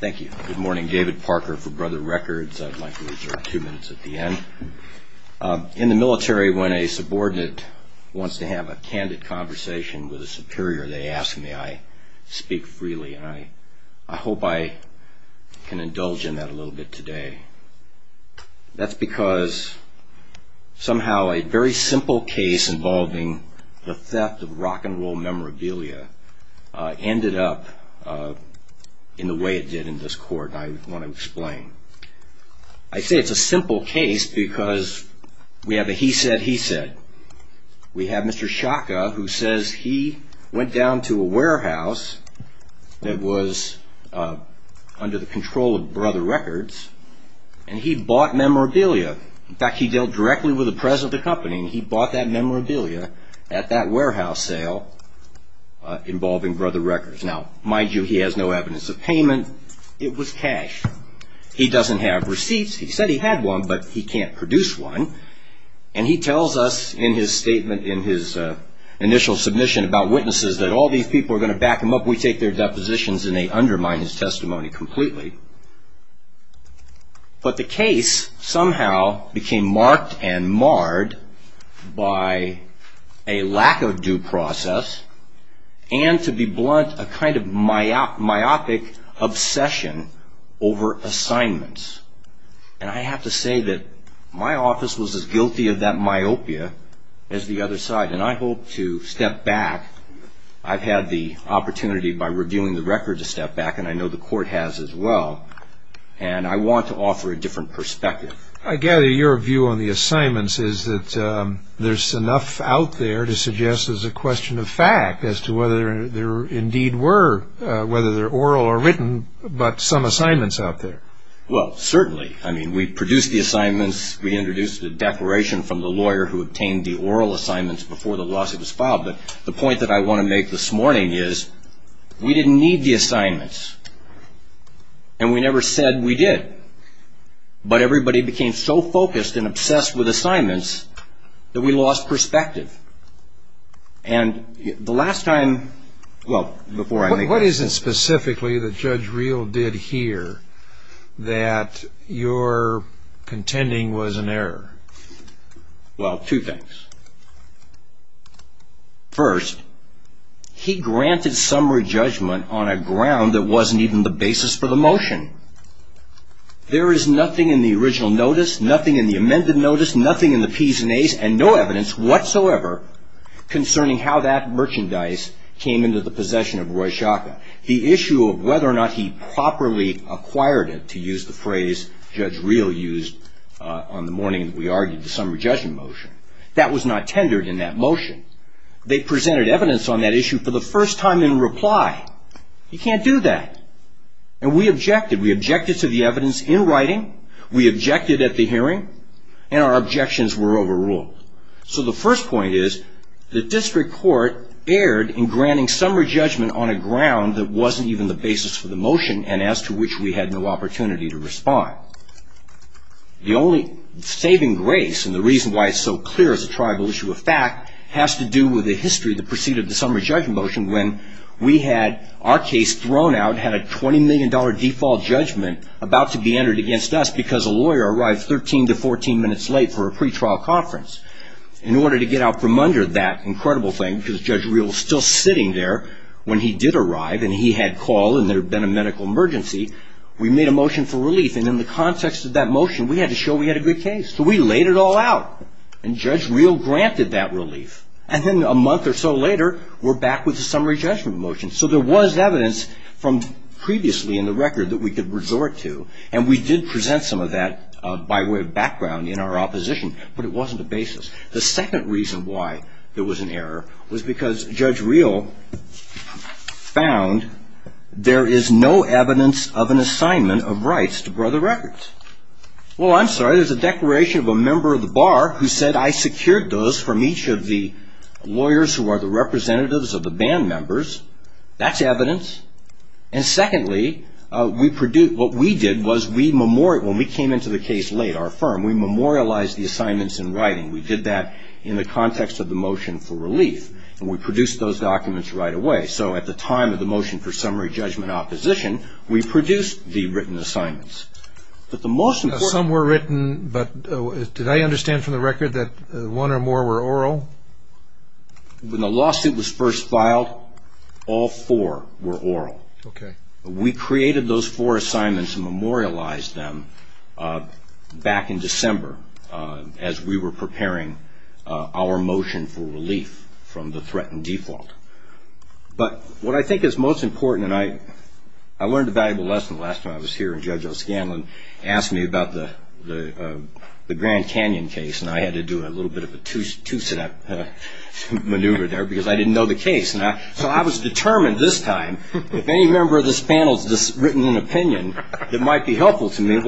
Thank you. Good morning. David Parker for Brother Records. I'd like to reserve two minutes at the end. In the military, when a subordinate wants to have a candid conversation with a superior, they ask, may I speak freely? And I, I hope I can indulge in that a little bit today. That's because somehow a very simple case involving the theft of rock and roll memorabilia ended up in the way it did in this court, and I want to explain. I say it's a simple case because we have a he said, he said. We have Mr. Shaka, who says he went down to a warehouse that was under the control of Brother Records, and he bought memorabilia. In fact, he dealt directly with the president of the company, and he bought that memorabilia at that warehouse sale involving Brother Records. Now, mind you, he has no evidence of payment. It was cash. He doesn't have receipts. He said he had one, but he can't produce one, and he tells us in his statement in his initial submission about witnesses that all these people are going to back him up. We take their depositions, and they undermine his testimony completely, but the case somehow became marked and marred by a lack of due process and, to be blunt, a kind of myopic obsession over assignments, and I have to say that my office was as guilty of that myopia as the other side, and I hope to step back. I've had the opportunity by reviewing the record to step back, and I know the court has as well, and I want to offer a different perspective. I gather your view on the assignments is that there's enough out there to suggest there's a question of fact as to whether there indeed were, whether they're oral or written, but some assignments out there. Well, certainly. I mean, we produced the assignments. We introduced a declaration from the lawyer who obtained the oral assignments before the lawsuit was filed, but the point that I want to make this morning is we didn't need the assignments, and we never said we did, but everybody became so focused and obsessed with assignments that we lost perspective, and the last time, well, before I make my point. What is it specifically that Judge Reel did here that your contending was an error? Well, two things. First, he granted summary judgment on a ground that wasn't even the basis for the motion. There is nothing in the original notice, nothing in the amended notice, nothing in the Ps and As, and no evidence whatsoever concerning how that merchandise came into the possession of Roy Shaka. The issue of whether or not he properly acquired it, to use the phrase Judge Reel used on the morning we argued the summary judgment motion, that was not tendered in that motion. They presented evidence on that issue for the first time in reply. You can't do that, and we objected. We objected to the evidence in writing. We objected at the hearing, and our objections were overruled. So the first point is the district court erred in granting summary judgment on a ground that wasn't even the basis for the motion, and as to which we had no opportunity to respond. The only saving grace, and the reason why it's so clear as a tribal issue of fact, has to do with the history that preceded the summary judgment motion when we had our case thrown out, had a $20 million default judgment about to be entered against us because a lawyer arrived 13 to 14 minutes late for a pretrial conference. In order to get out from under that incredible thing, because Judge Reel was still sitting there when he did arrive, and he had called, and there had been a medical emergency, we made a motion for relief, and in the context of that motion, we had to show we had a good case. So we laid it all out, and Judge Reel granted that relief, and then a month or so later, we're back with the summary judgment motion. So there was evidence from previously in the record that we could resort to, and we did present some of that by way of background in our opposition, but it wasn't the basis. The second reason why there was an error was because Judge Reel found there is no evidence of an assignment of rights to brother records. Well, I'm sorry, there's a declaration of a member of the bar who said, I secured those from each of the lawyers who are the representatives of the band members. That's evidence. And secondly, what we did was, when we came into the case late, our firm, we memorialized the assignments in writing. We did that in the context of the motion for relief, and we produced those documents right away. So at the time of the motion for summary judgment opposition, we produced the written assignments. Some were written, but did I understand from the record that one or more were oral? When the lawsuit was first filed, all four were oral. Okay. We created those four assignments and memorialized them back in December as we were preparing our motion for relief from the threatened default. But what I think is most important, and I learned a valuable lesson the last time I was here, and Judge O'Scanlan asked me about the Grand Canyon case, and I had to do a little bit of a two-step maneuver there because I didn't know the case. So I was determined this time, if any member of this panel has written an opinion that might be helpful to me,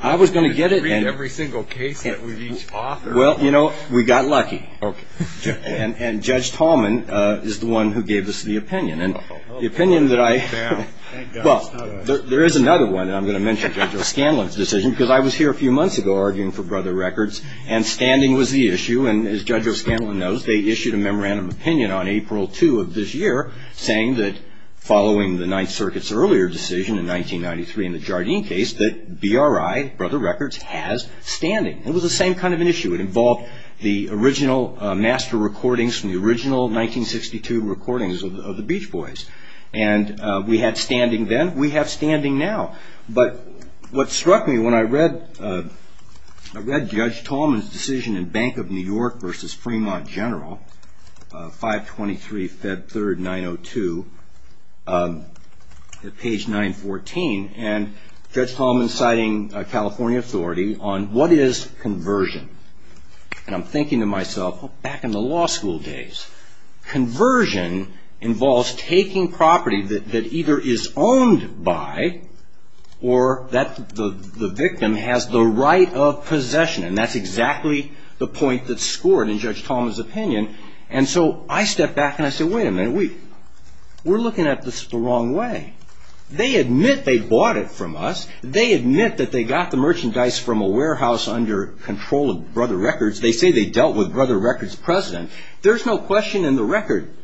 I was going to get it. Read every single case that we've each authored. Well, you know, we got lucky, and Judge Tallman is the one who gave us the opinion. And the opinion that I – well, there is another one that I'm going to mention, Judge O'Scanlan's decision, because I was here a few months ago arguing for Brother Records, and standing was the issue. And as Judge O'Scanlan knows, they issued a memorandum of opinion on April 2 of this year saying that following the Ninth Circuit's earlier decision in 1993 in the Jardine case that BRI, Brother Records, has standing. It was the same kind of an issue. It involved the original master recordings from the original 1962 recordings of the Beach Boys. And we had standing then. We have standing now. But what struck me when I read Judge Tallman's decision in Bank of New York v. Fremont General, 523 Feb 3, 902, at page 914, and Judge Tallman citing California authority on what is conversion. And I'm thinking to myself, back in the law school days, conversion involves taking property that either is owned by or that the victim has the right of possession. And that's exactly the point that scored in Judge Tallman's opinion. And so I stepped back and I said, wait a minute. We're looking at this the wrong way. They admit they bought it from us. They admit that they got the merchandise from a warehouse under control of Brother Records. They say they dealt with Brother Records' president. There's no question in the record.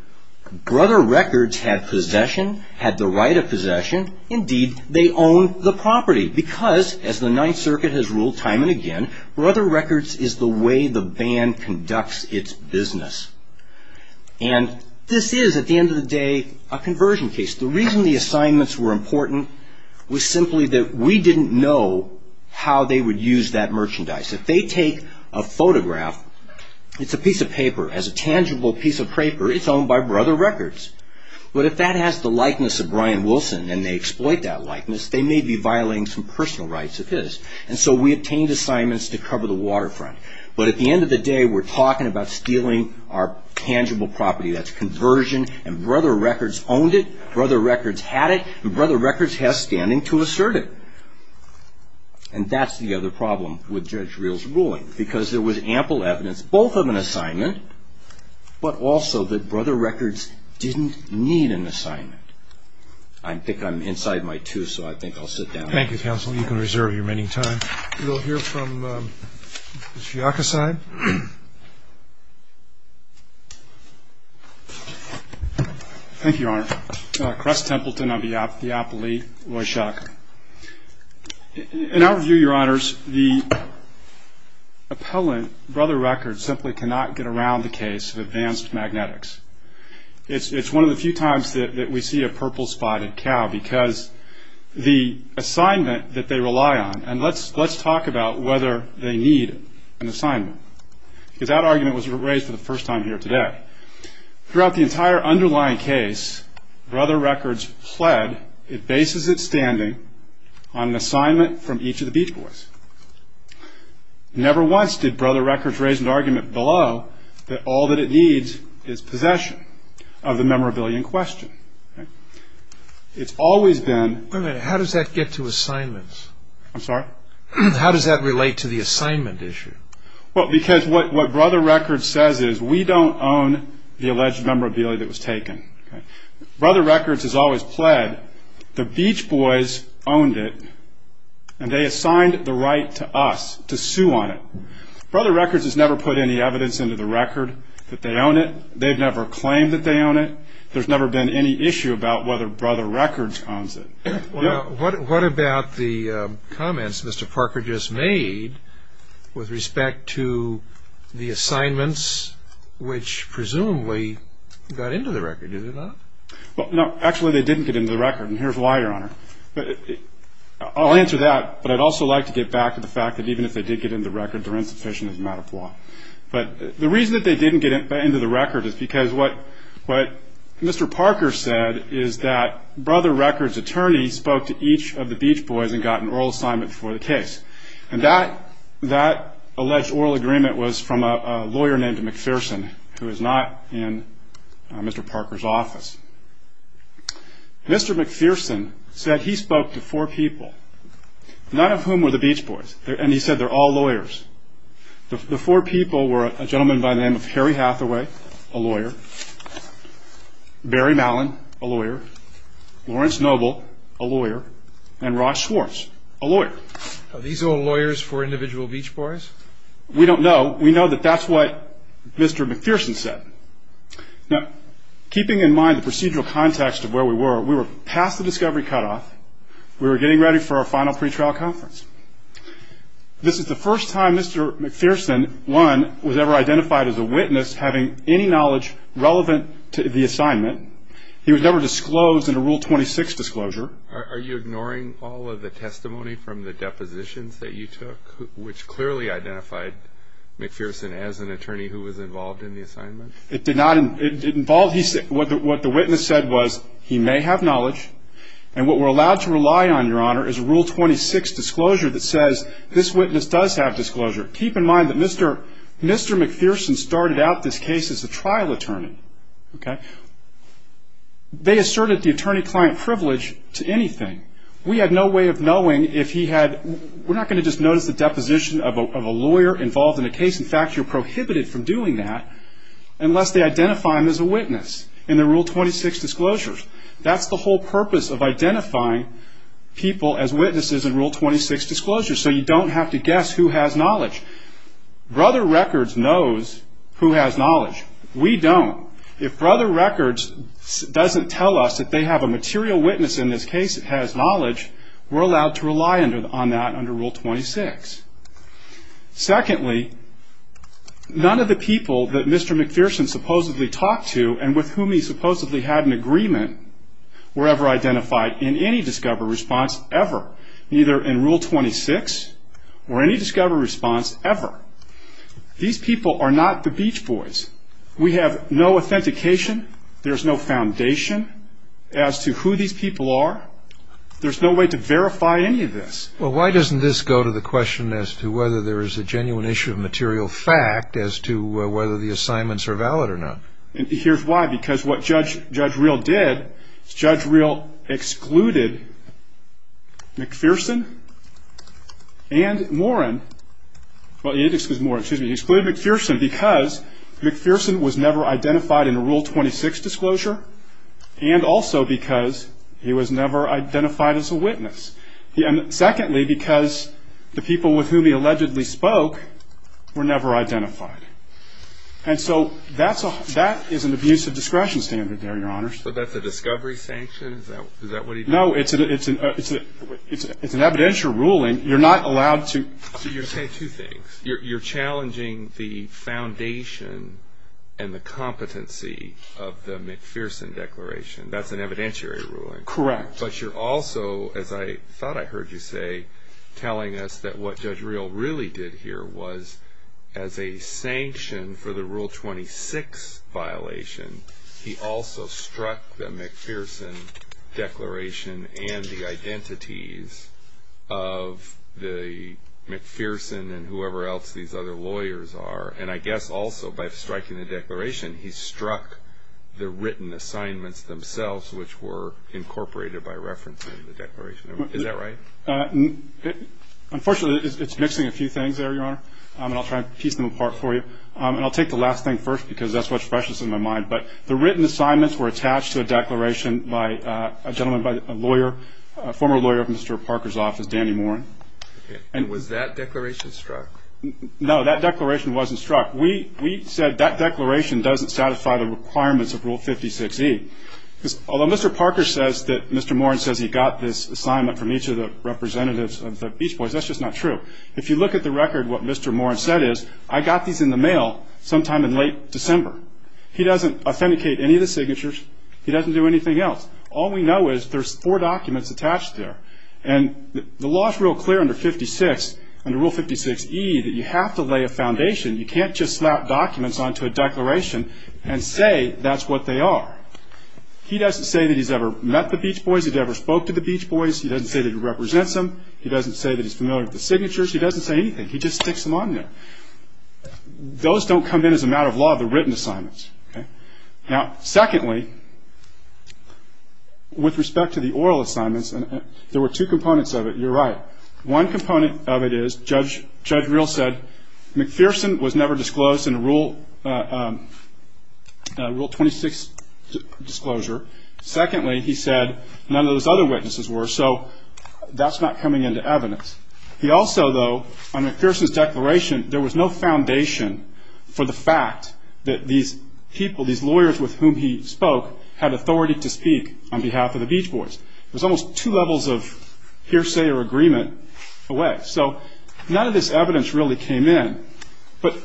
Brother Records had possession, had the right of possession. Indeed, they owned the property. Because, as the Ninth Circuit has ruled time and again, Brother Records is the way the band conducts its business. And this is, at the end of the day, a conversion case. The reason the assignments were important was simply that we didn't know how they would use that merchandise. If they take a photograph, it's a piece of paper. As a tangible piece of paper, it's owned by Brother Records. But if that has the likeness of Brian Wilson and they exploit that likeness, they may be violating some personal rights of his. And so we obtained assignments to cover the waterfront. But at the end of the day, we're talking about stealing our tangible property. That's conversion. And Brother Records owned it. Brother Records had it. And Brother Records has standing to assert it. And that's the other problem with Judge Reel's ruling. Because there was ample evidence, both of an assignment, but also that Brother Records didn't need an assignment. I think I'm inside my two, so I think I'll sit down. Thank you, counsel. You can reserve your remaining time. We'll hear from Mr. Yacocide. Thank you, Your Honor. Cress Templeton of the Diapole, Woyshak. In our view, Your Honors, the appellant, Brother Records, simply cannot get around the case of advanced magnetics. It's one of the few times that we see a purple-spotted cow, because the assignment that they rely on And let's talk about whether they need an assignment. Because that argument was raised for the first time here today. Throughout the entire underlying case, Brother Records fled. It bases its standing on an assignment from each of the Beach Boys. Never once did Brother Records raise an argument below that all that it needs is possession of the memorabilia in question. It's always been How does that get to assignments? I'm sorry? How does that relate to the assignment issue? Well, because what Brother Records says is, we don't own the alleged memorabilia that was taken. Brother Records has always pled. The Beach Boys owned it, and they assigned the right to us to sue on it. Brother Records has never put any evidence into the record that they own it. They've never claimed that they own it. There's never been any issue about whether Brother Records owns it. What about the comments Mr. Parker just made with respect to the assignments, which presumably got into the record, did they not? Actually, they didn't get into the record, and here's why, Your Honor. I'll answer that, but I'd also like to get back to the fact that even if they did get into the record, they're insufficient as a matter of law. The reason that they didn't get into the record is because what Mr. Parker said is that Brother Records' attorney spoke to each of the Beach Boys and got an oral assignment for the case. That alleged oral agreement was from a lawyer named McPherson, who is not in Mr. Parker's office. Mr. McPherson said he spoke to four people, none of whom were the Beach Boys, and he said they're all lawyers. The four people were a gentleman by the name of Harry Hathaway, a lawyer, Barry Mallon, a lawyer, Lawrence Noble, a lawyer, and Ross Schwartz, a lawyer. Are these all lawyers for individual Beach Boys? We don't know. We know that that's what Mr. McPherson said. Now, keeping in mind the procedural context of where we were, we were past the discovery cutoff. We were getting ready for our final pretrial conference. This is the first time Mr. McPherson, one, was ever identified as a witness having any knowledge relevant to the assignment. He was never disclosed in a Rule 26 disclosure. Are you ignoring all of the testimony from the depositions that you took, which clearly identified McPherson as an attorney who was involved in the assignment? What the witness said was he may have knowledge, and what we're allowed to rely on, Your Honor, is a Rule 26 disclosure that says this witness does have disclosure. Keep in mind that Mr. McPherson started out this case as a trial attorney. They asserted the attorney-client privilege to anything. We had no way of knowing if he had – we're not going to just notice the deposition of a lawyer involved in a case. In fact, you're prohibited from doing that unless they identify him as a witness in the Rule 26 disclosures. That's the whole purpose of identifying people as witnesses in Rule 26 disclosures, so you don't have to guess who has knowledge. Brother Records knows who has knowledge. We don't. If Brother Records doesn't tell us that they have a material witness in this case that has knowledge, we're allowed to rely on that under Rule 26. Secondly, none of the people that Mr. McPherson supposedly talked to and with whom he supposedly had an agreement were ever identified in any discovery response ever, neither in Rule 26 or any discovery response ever. These people are not the Beach Boys. We have no authentication. There's no foundation as to who these people are. There's no way to verify any of this. Well, why doesn't this go to the question as to whether there is a genuine issue of material fact as to whether the assignments are valid or not? Here's why. Because what Judge Reel did is Judge Reel excluded McPherson and Moran. Well, he didn't exclude Moran. Excuse me. He excluded McPherson because McPherson was never identified in a Rule 26 disclosure and also because he was never identified as a witness. And secondly, because the people with whom he allegedly spoke were never identified. And so that is an abuse of discretion standard there, Your Honors. So that's a discovery sanction? Is that what he did? No, it's an evidential ruling. You're not allowed to. So you're saying two things. You're challenging the foundation and the competency of the McPherson declaration. That's an evidentiary ruling. Correct. But you're also, as I thought I heard you say, telling us that what Judge Reel really did here was as a sanction for the Rule 26 violation, he also struck the McPherson declaration and the identities of the McPherson and whoever else these other lawyers are. And I guess also by striking the declaration, he struck the written assignments themselves, which were incorporated by reference in the declaration. Is that right? Unfortunately, it's mixing a few things there, Your Honor, and I'll try to piece them apart for you. And I'll take the last thing first because that's what's freshest in my mind. But the written assignments were attached to a declaration by a gentleman, by a lawyer, a former lawyer of Mr. Parker's office, Danny Moran. And was that declaration struck? No, that declaration wasn't struck. We said that declaration doesn't satisfy the requirements of Rule 56E. Although Mr. Parker says that Mr. Moran says he got this assignment from each of the representatives of the Beach Boys, that's just not true. If you look at the record, what Mr. Moran said is, I got these in the mail sometime in late December. He doesn't authenticate any of the signatures. He doesn't do anything else. All we know is there's four documents attached there. And the law is real clear under Rule 56E that you have to lay a foundation. You can't just slap documents onto a declaration and say that's what they are. He doesn't say that he's ever met the Beach Boys, that he ever spoke to the Beach Boys. He doesn't say that he represents them. He doesn't say that he's familiar with the signatures. He doesn't say anything. He just sticks them on there. Those don't come in as a matter of law, the written assignments. Now, secondly, with respect to the oral assignments, there were two components of it. You're right. One component of it is Judge Reel said McPherson was never disclosed in Rule 26 disclosure. Secondly, he said none of those other witnesses were. So that's not coming into evidence. He also, though, on McPherson's declaration, there was no foundation for the fact that these people, these lawyers with whom he spoke, had authority to speak on behalf of the Beach Boys. There's almost two levels of hearsay or agreement away. So none of this evidence really came in. But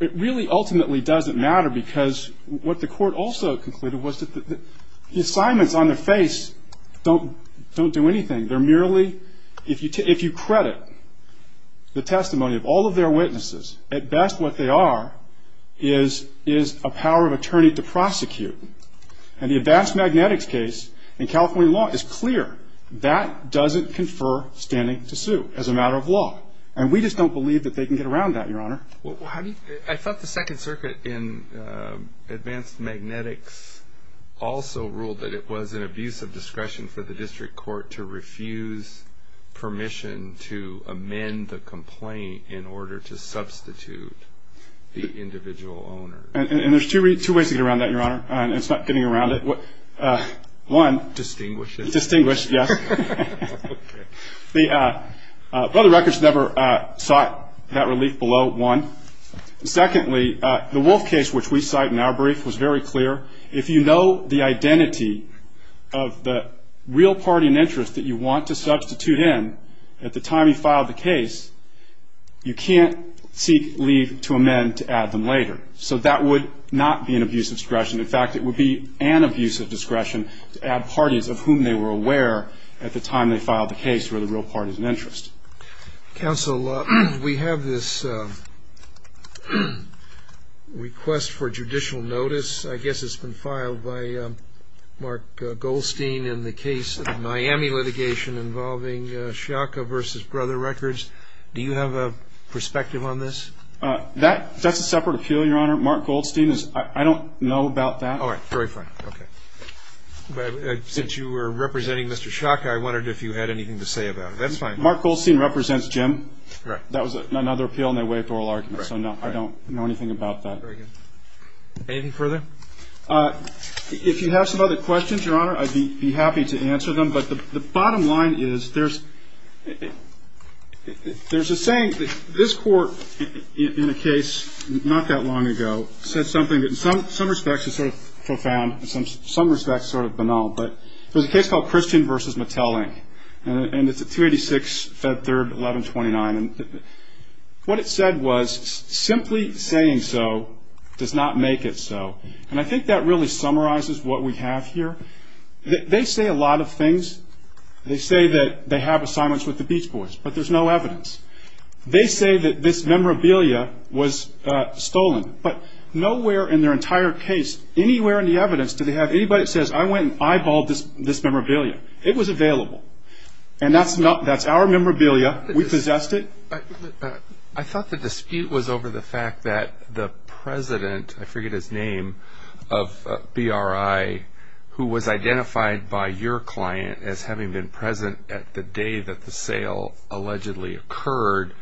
it really ultimately doesn't matter because what the court also concluded was that the assignments on their face don't do anything. They're merely, if you credit the testimony of all of their witnesses, at best what they are is a power of attorney to prosecute. And the advanced magnetics case in California law is clear. That doesn't confer standing to sue as a matter of law. And we just don't believe that they can get around that, Your Honor. I thought the Second Circuit in advanced magnetics also ruled that it was an abuse of discretion for the district court to refuse permission to amend the complaint in order to substitute the individual owner. And there's two ways to get around that, Your Honor. It's not getting around it. One. Distinguish it. Distinguish, yes. Well, the records never sought that relief below, one. Secondly, the Wolf case, which we cite in our brief, was very clear. If you know the identity of the real party in interest that you want to substitute in at the time you filed the case, you can't seek leave to amend to add them later. In fact, it would be an abuse of discretion to add parties of whom they were aware at the time they filed the case who were the real parties in interest. Counsel, we have this request for judicial notice. I guess it's been filed by Mark Goldstein in the case of the Miami litigation involving Sciocca v. Brother Records. Do you have a perspective on this? That's a separate appeal, Your Honor. Mark Goldstein, I don't know about that. All right. Very fine. Okay. Since you were representing Mr. Sciocca, I wondered if you had anything to say about it. That's fine. Mark Goldstein represents Jim. Right. That was another appeal, and they waived oral argument. Right. So, no, I don't know anything about that. Very good. Anything further? If you have some other questions, Your Honor, I'd be happy to answer them. But the bottom line is there's a saying that this court, in a case not that long ago, said something that in some respects is sort of profound, in some respects sort of banal. But there's a case called Christian v. Mattel, and it's at 286, Fed Third, 1129. And what it said was, simply saying so does not make it so. And I think that really summarizes what we have here. They say a lot of things. They say that they have assignments with the Beach Boys, but there's no evidence. They say that this memorabilia was stolen. But nowhere in their entire case, anywhere in the evidence, did they have anybody that says, I went and eyeballed this memorabilia. It was available. And that's our memorabilia. We possessed it. I thought the dispute was over the fact that the president, I forget his name, of BRI, who was identified by your client as having been present at the day that the sale allegedly occurred,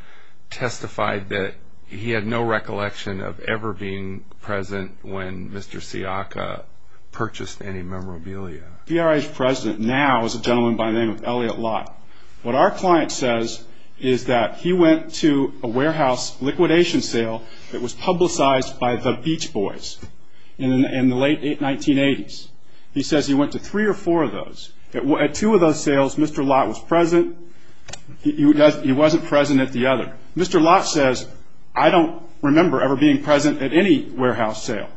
testified that he had no recollection of ever being present when Mr. Siaka purchased any memorabilia. BRI's president now is a gentleman by the name of Elliot Lott. What our client says is that he went to a warehouse liquidation sale that was publicized by the Beach Boys in the late 1980s. He says he went to three or four of those. At two of those sales, Mr. Lott was present. He wasn't present at the other. Mr. Lott says, I don't remember ever being present at any warehouse sale.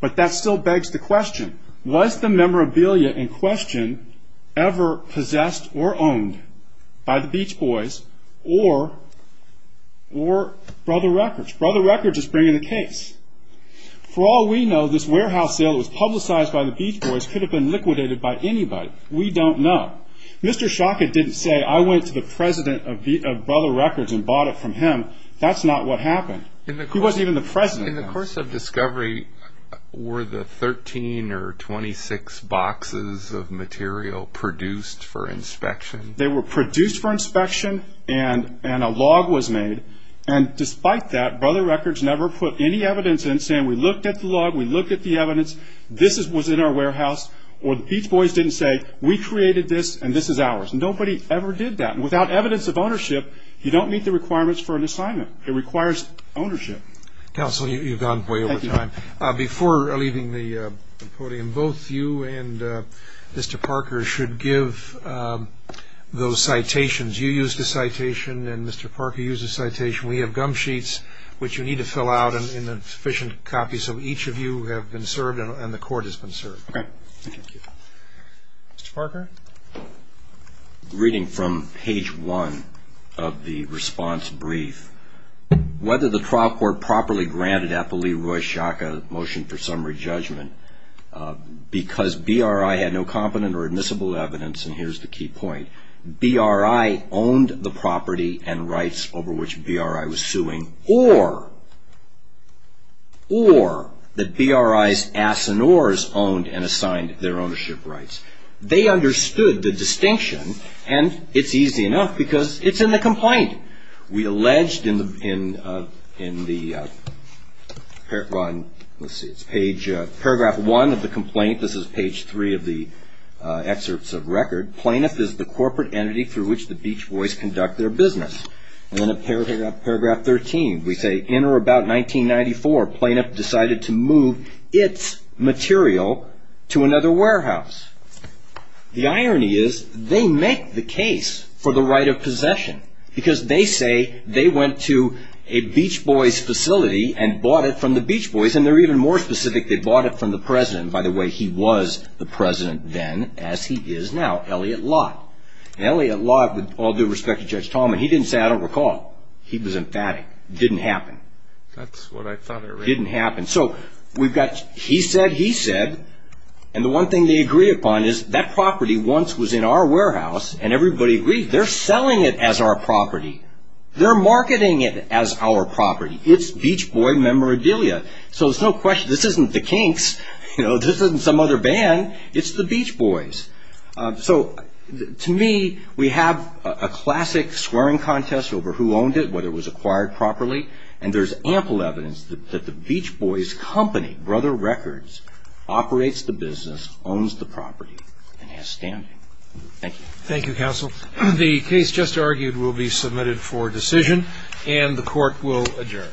But that still begs the question, was the memorabilia in question ever possessed or owned by the Beach Boys or Brother Records? Brother Records is bringing the case. For all we know, this warehouse sale that was publicized by the Beach Boys could have been liquidated by anybody. We don't know. Mr. Siaka didn't say, I went to the president of Brother Records and bought it from him. That's not what happened. He wasn't even the president. In the course of discovery, were the 13 or 26 boxes of material produced for inspection? They were produced for inspection and a log was made. Despite that, Brother Records never put any evidence in saying we looked at the log, we looked at the evidence, this was in our warehouse. Or the Beach Boys didn't say, we created this and this is ours. Nobody ever did that. Without evidence of ownership, you don't meet the requirements for an assignment. It requires ownership. Counsel, you've gone way over time. Before leaving the podium, both you and Mr. Parker should give those citations. You used a citation and Mr. Parker used a citation. We have gum sheets, which you need to fill out in sufficient copies, so each of you have been served and the court has been served. Okay. Thank you. Mr. Parker? Reading from page one of the response brief, whether the trial court properly granted Appali Roy Shaka a motion for summary judgment, because BRI had no competent or admissible evidence, and here's the key point, BRI owned the property and rights over which BRI was suing, or that BRI's ass and oars owned and assigned their ownership rights. They understood the distinction and it's easy enough because it's in the complaint. We alleged in the paragraph one of the complaint, this is page three of the excerpts of record, plaintiff is the corporate entity through which the Beach Boys conduct their business. And then in paragraph 13, we say in or about 1994, plaintiff decided to move its material to another warehouse. The irony is they make the case for the right of possession because they say they went to a Beach Boys facility and bought it from the Beach Boys, and they're even more specific, they bought it from the president. By the way, he was the president then as he is now, Elliot Lott. And Elliot Lott, with all due respect to Judge Tallman, he didn't say I don't recall. He was emphatic. It didn't happen. That's what I thought it was. It didn't happen. So we've got he said, he said, and the one thing they agree upon is that property once was in our warehouse and everybody agrees they're selling it as our property. They're marketing it as our property. It's Beach Boy memorabilia. So there's no question, this isn't the Kinks. This isn't some other band. It's the Beach Boys. So to me, we have a classic swearing contest over who owned it, whether it was acquired properly, and there's ample evidence that the Beach Boys company, Brother Records, operates the business, owns the property, and has standing. Thank you. Thank you, counsel. The case just argued will be submitted for decision, and the court will adjourn.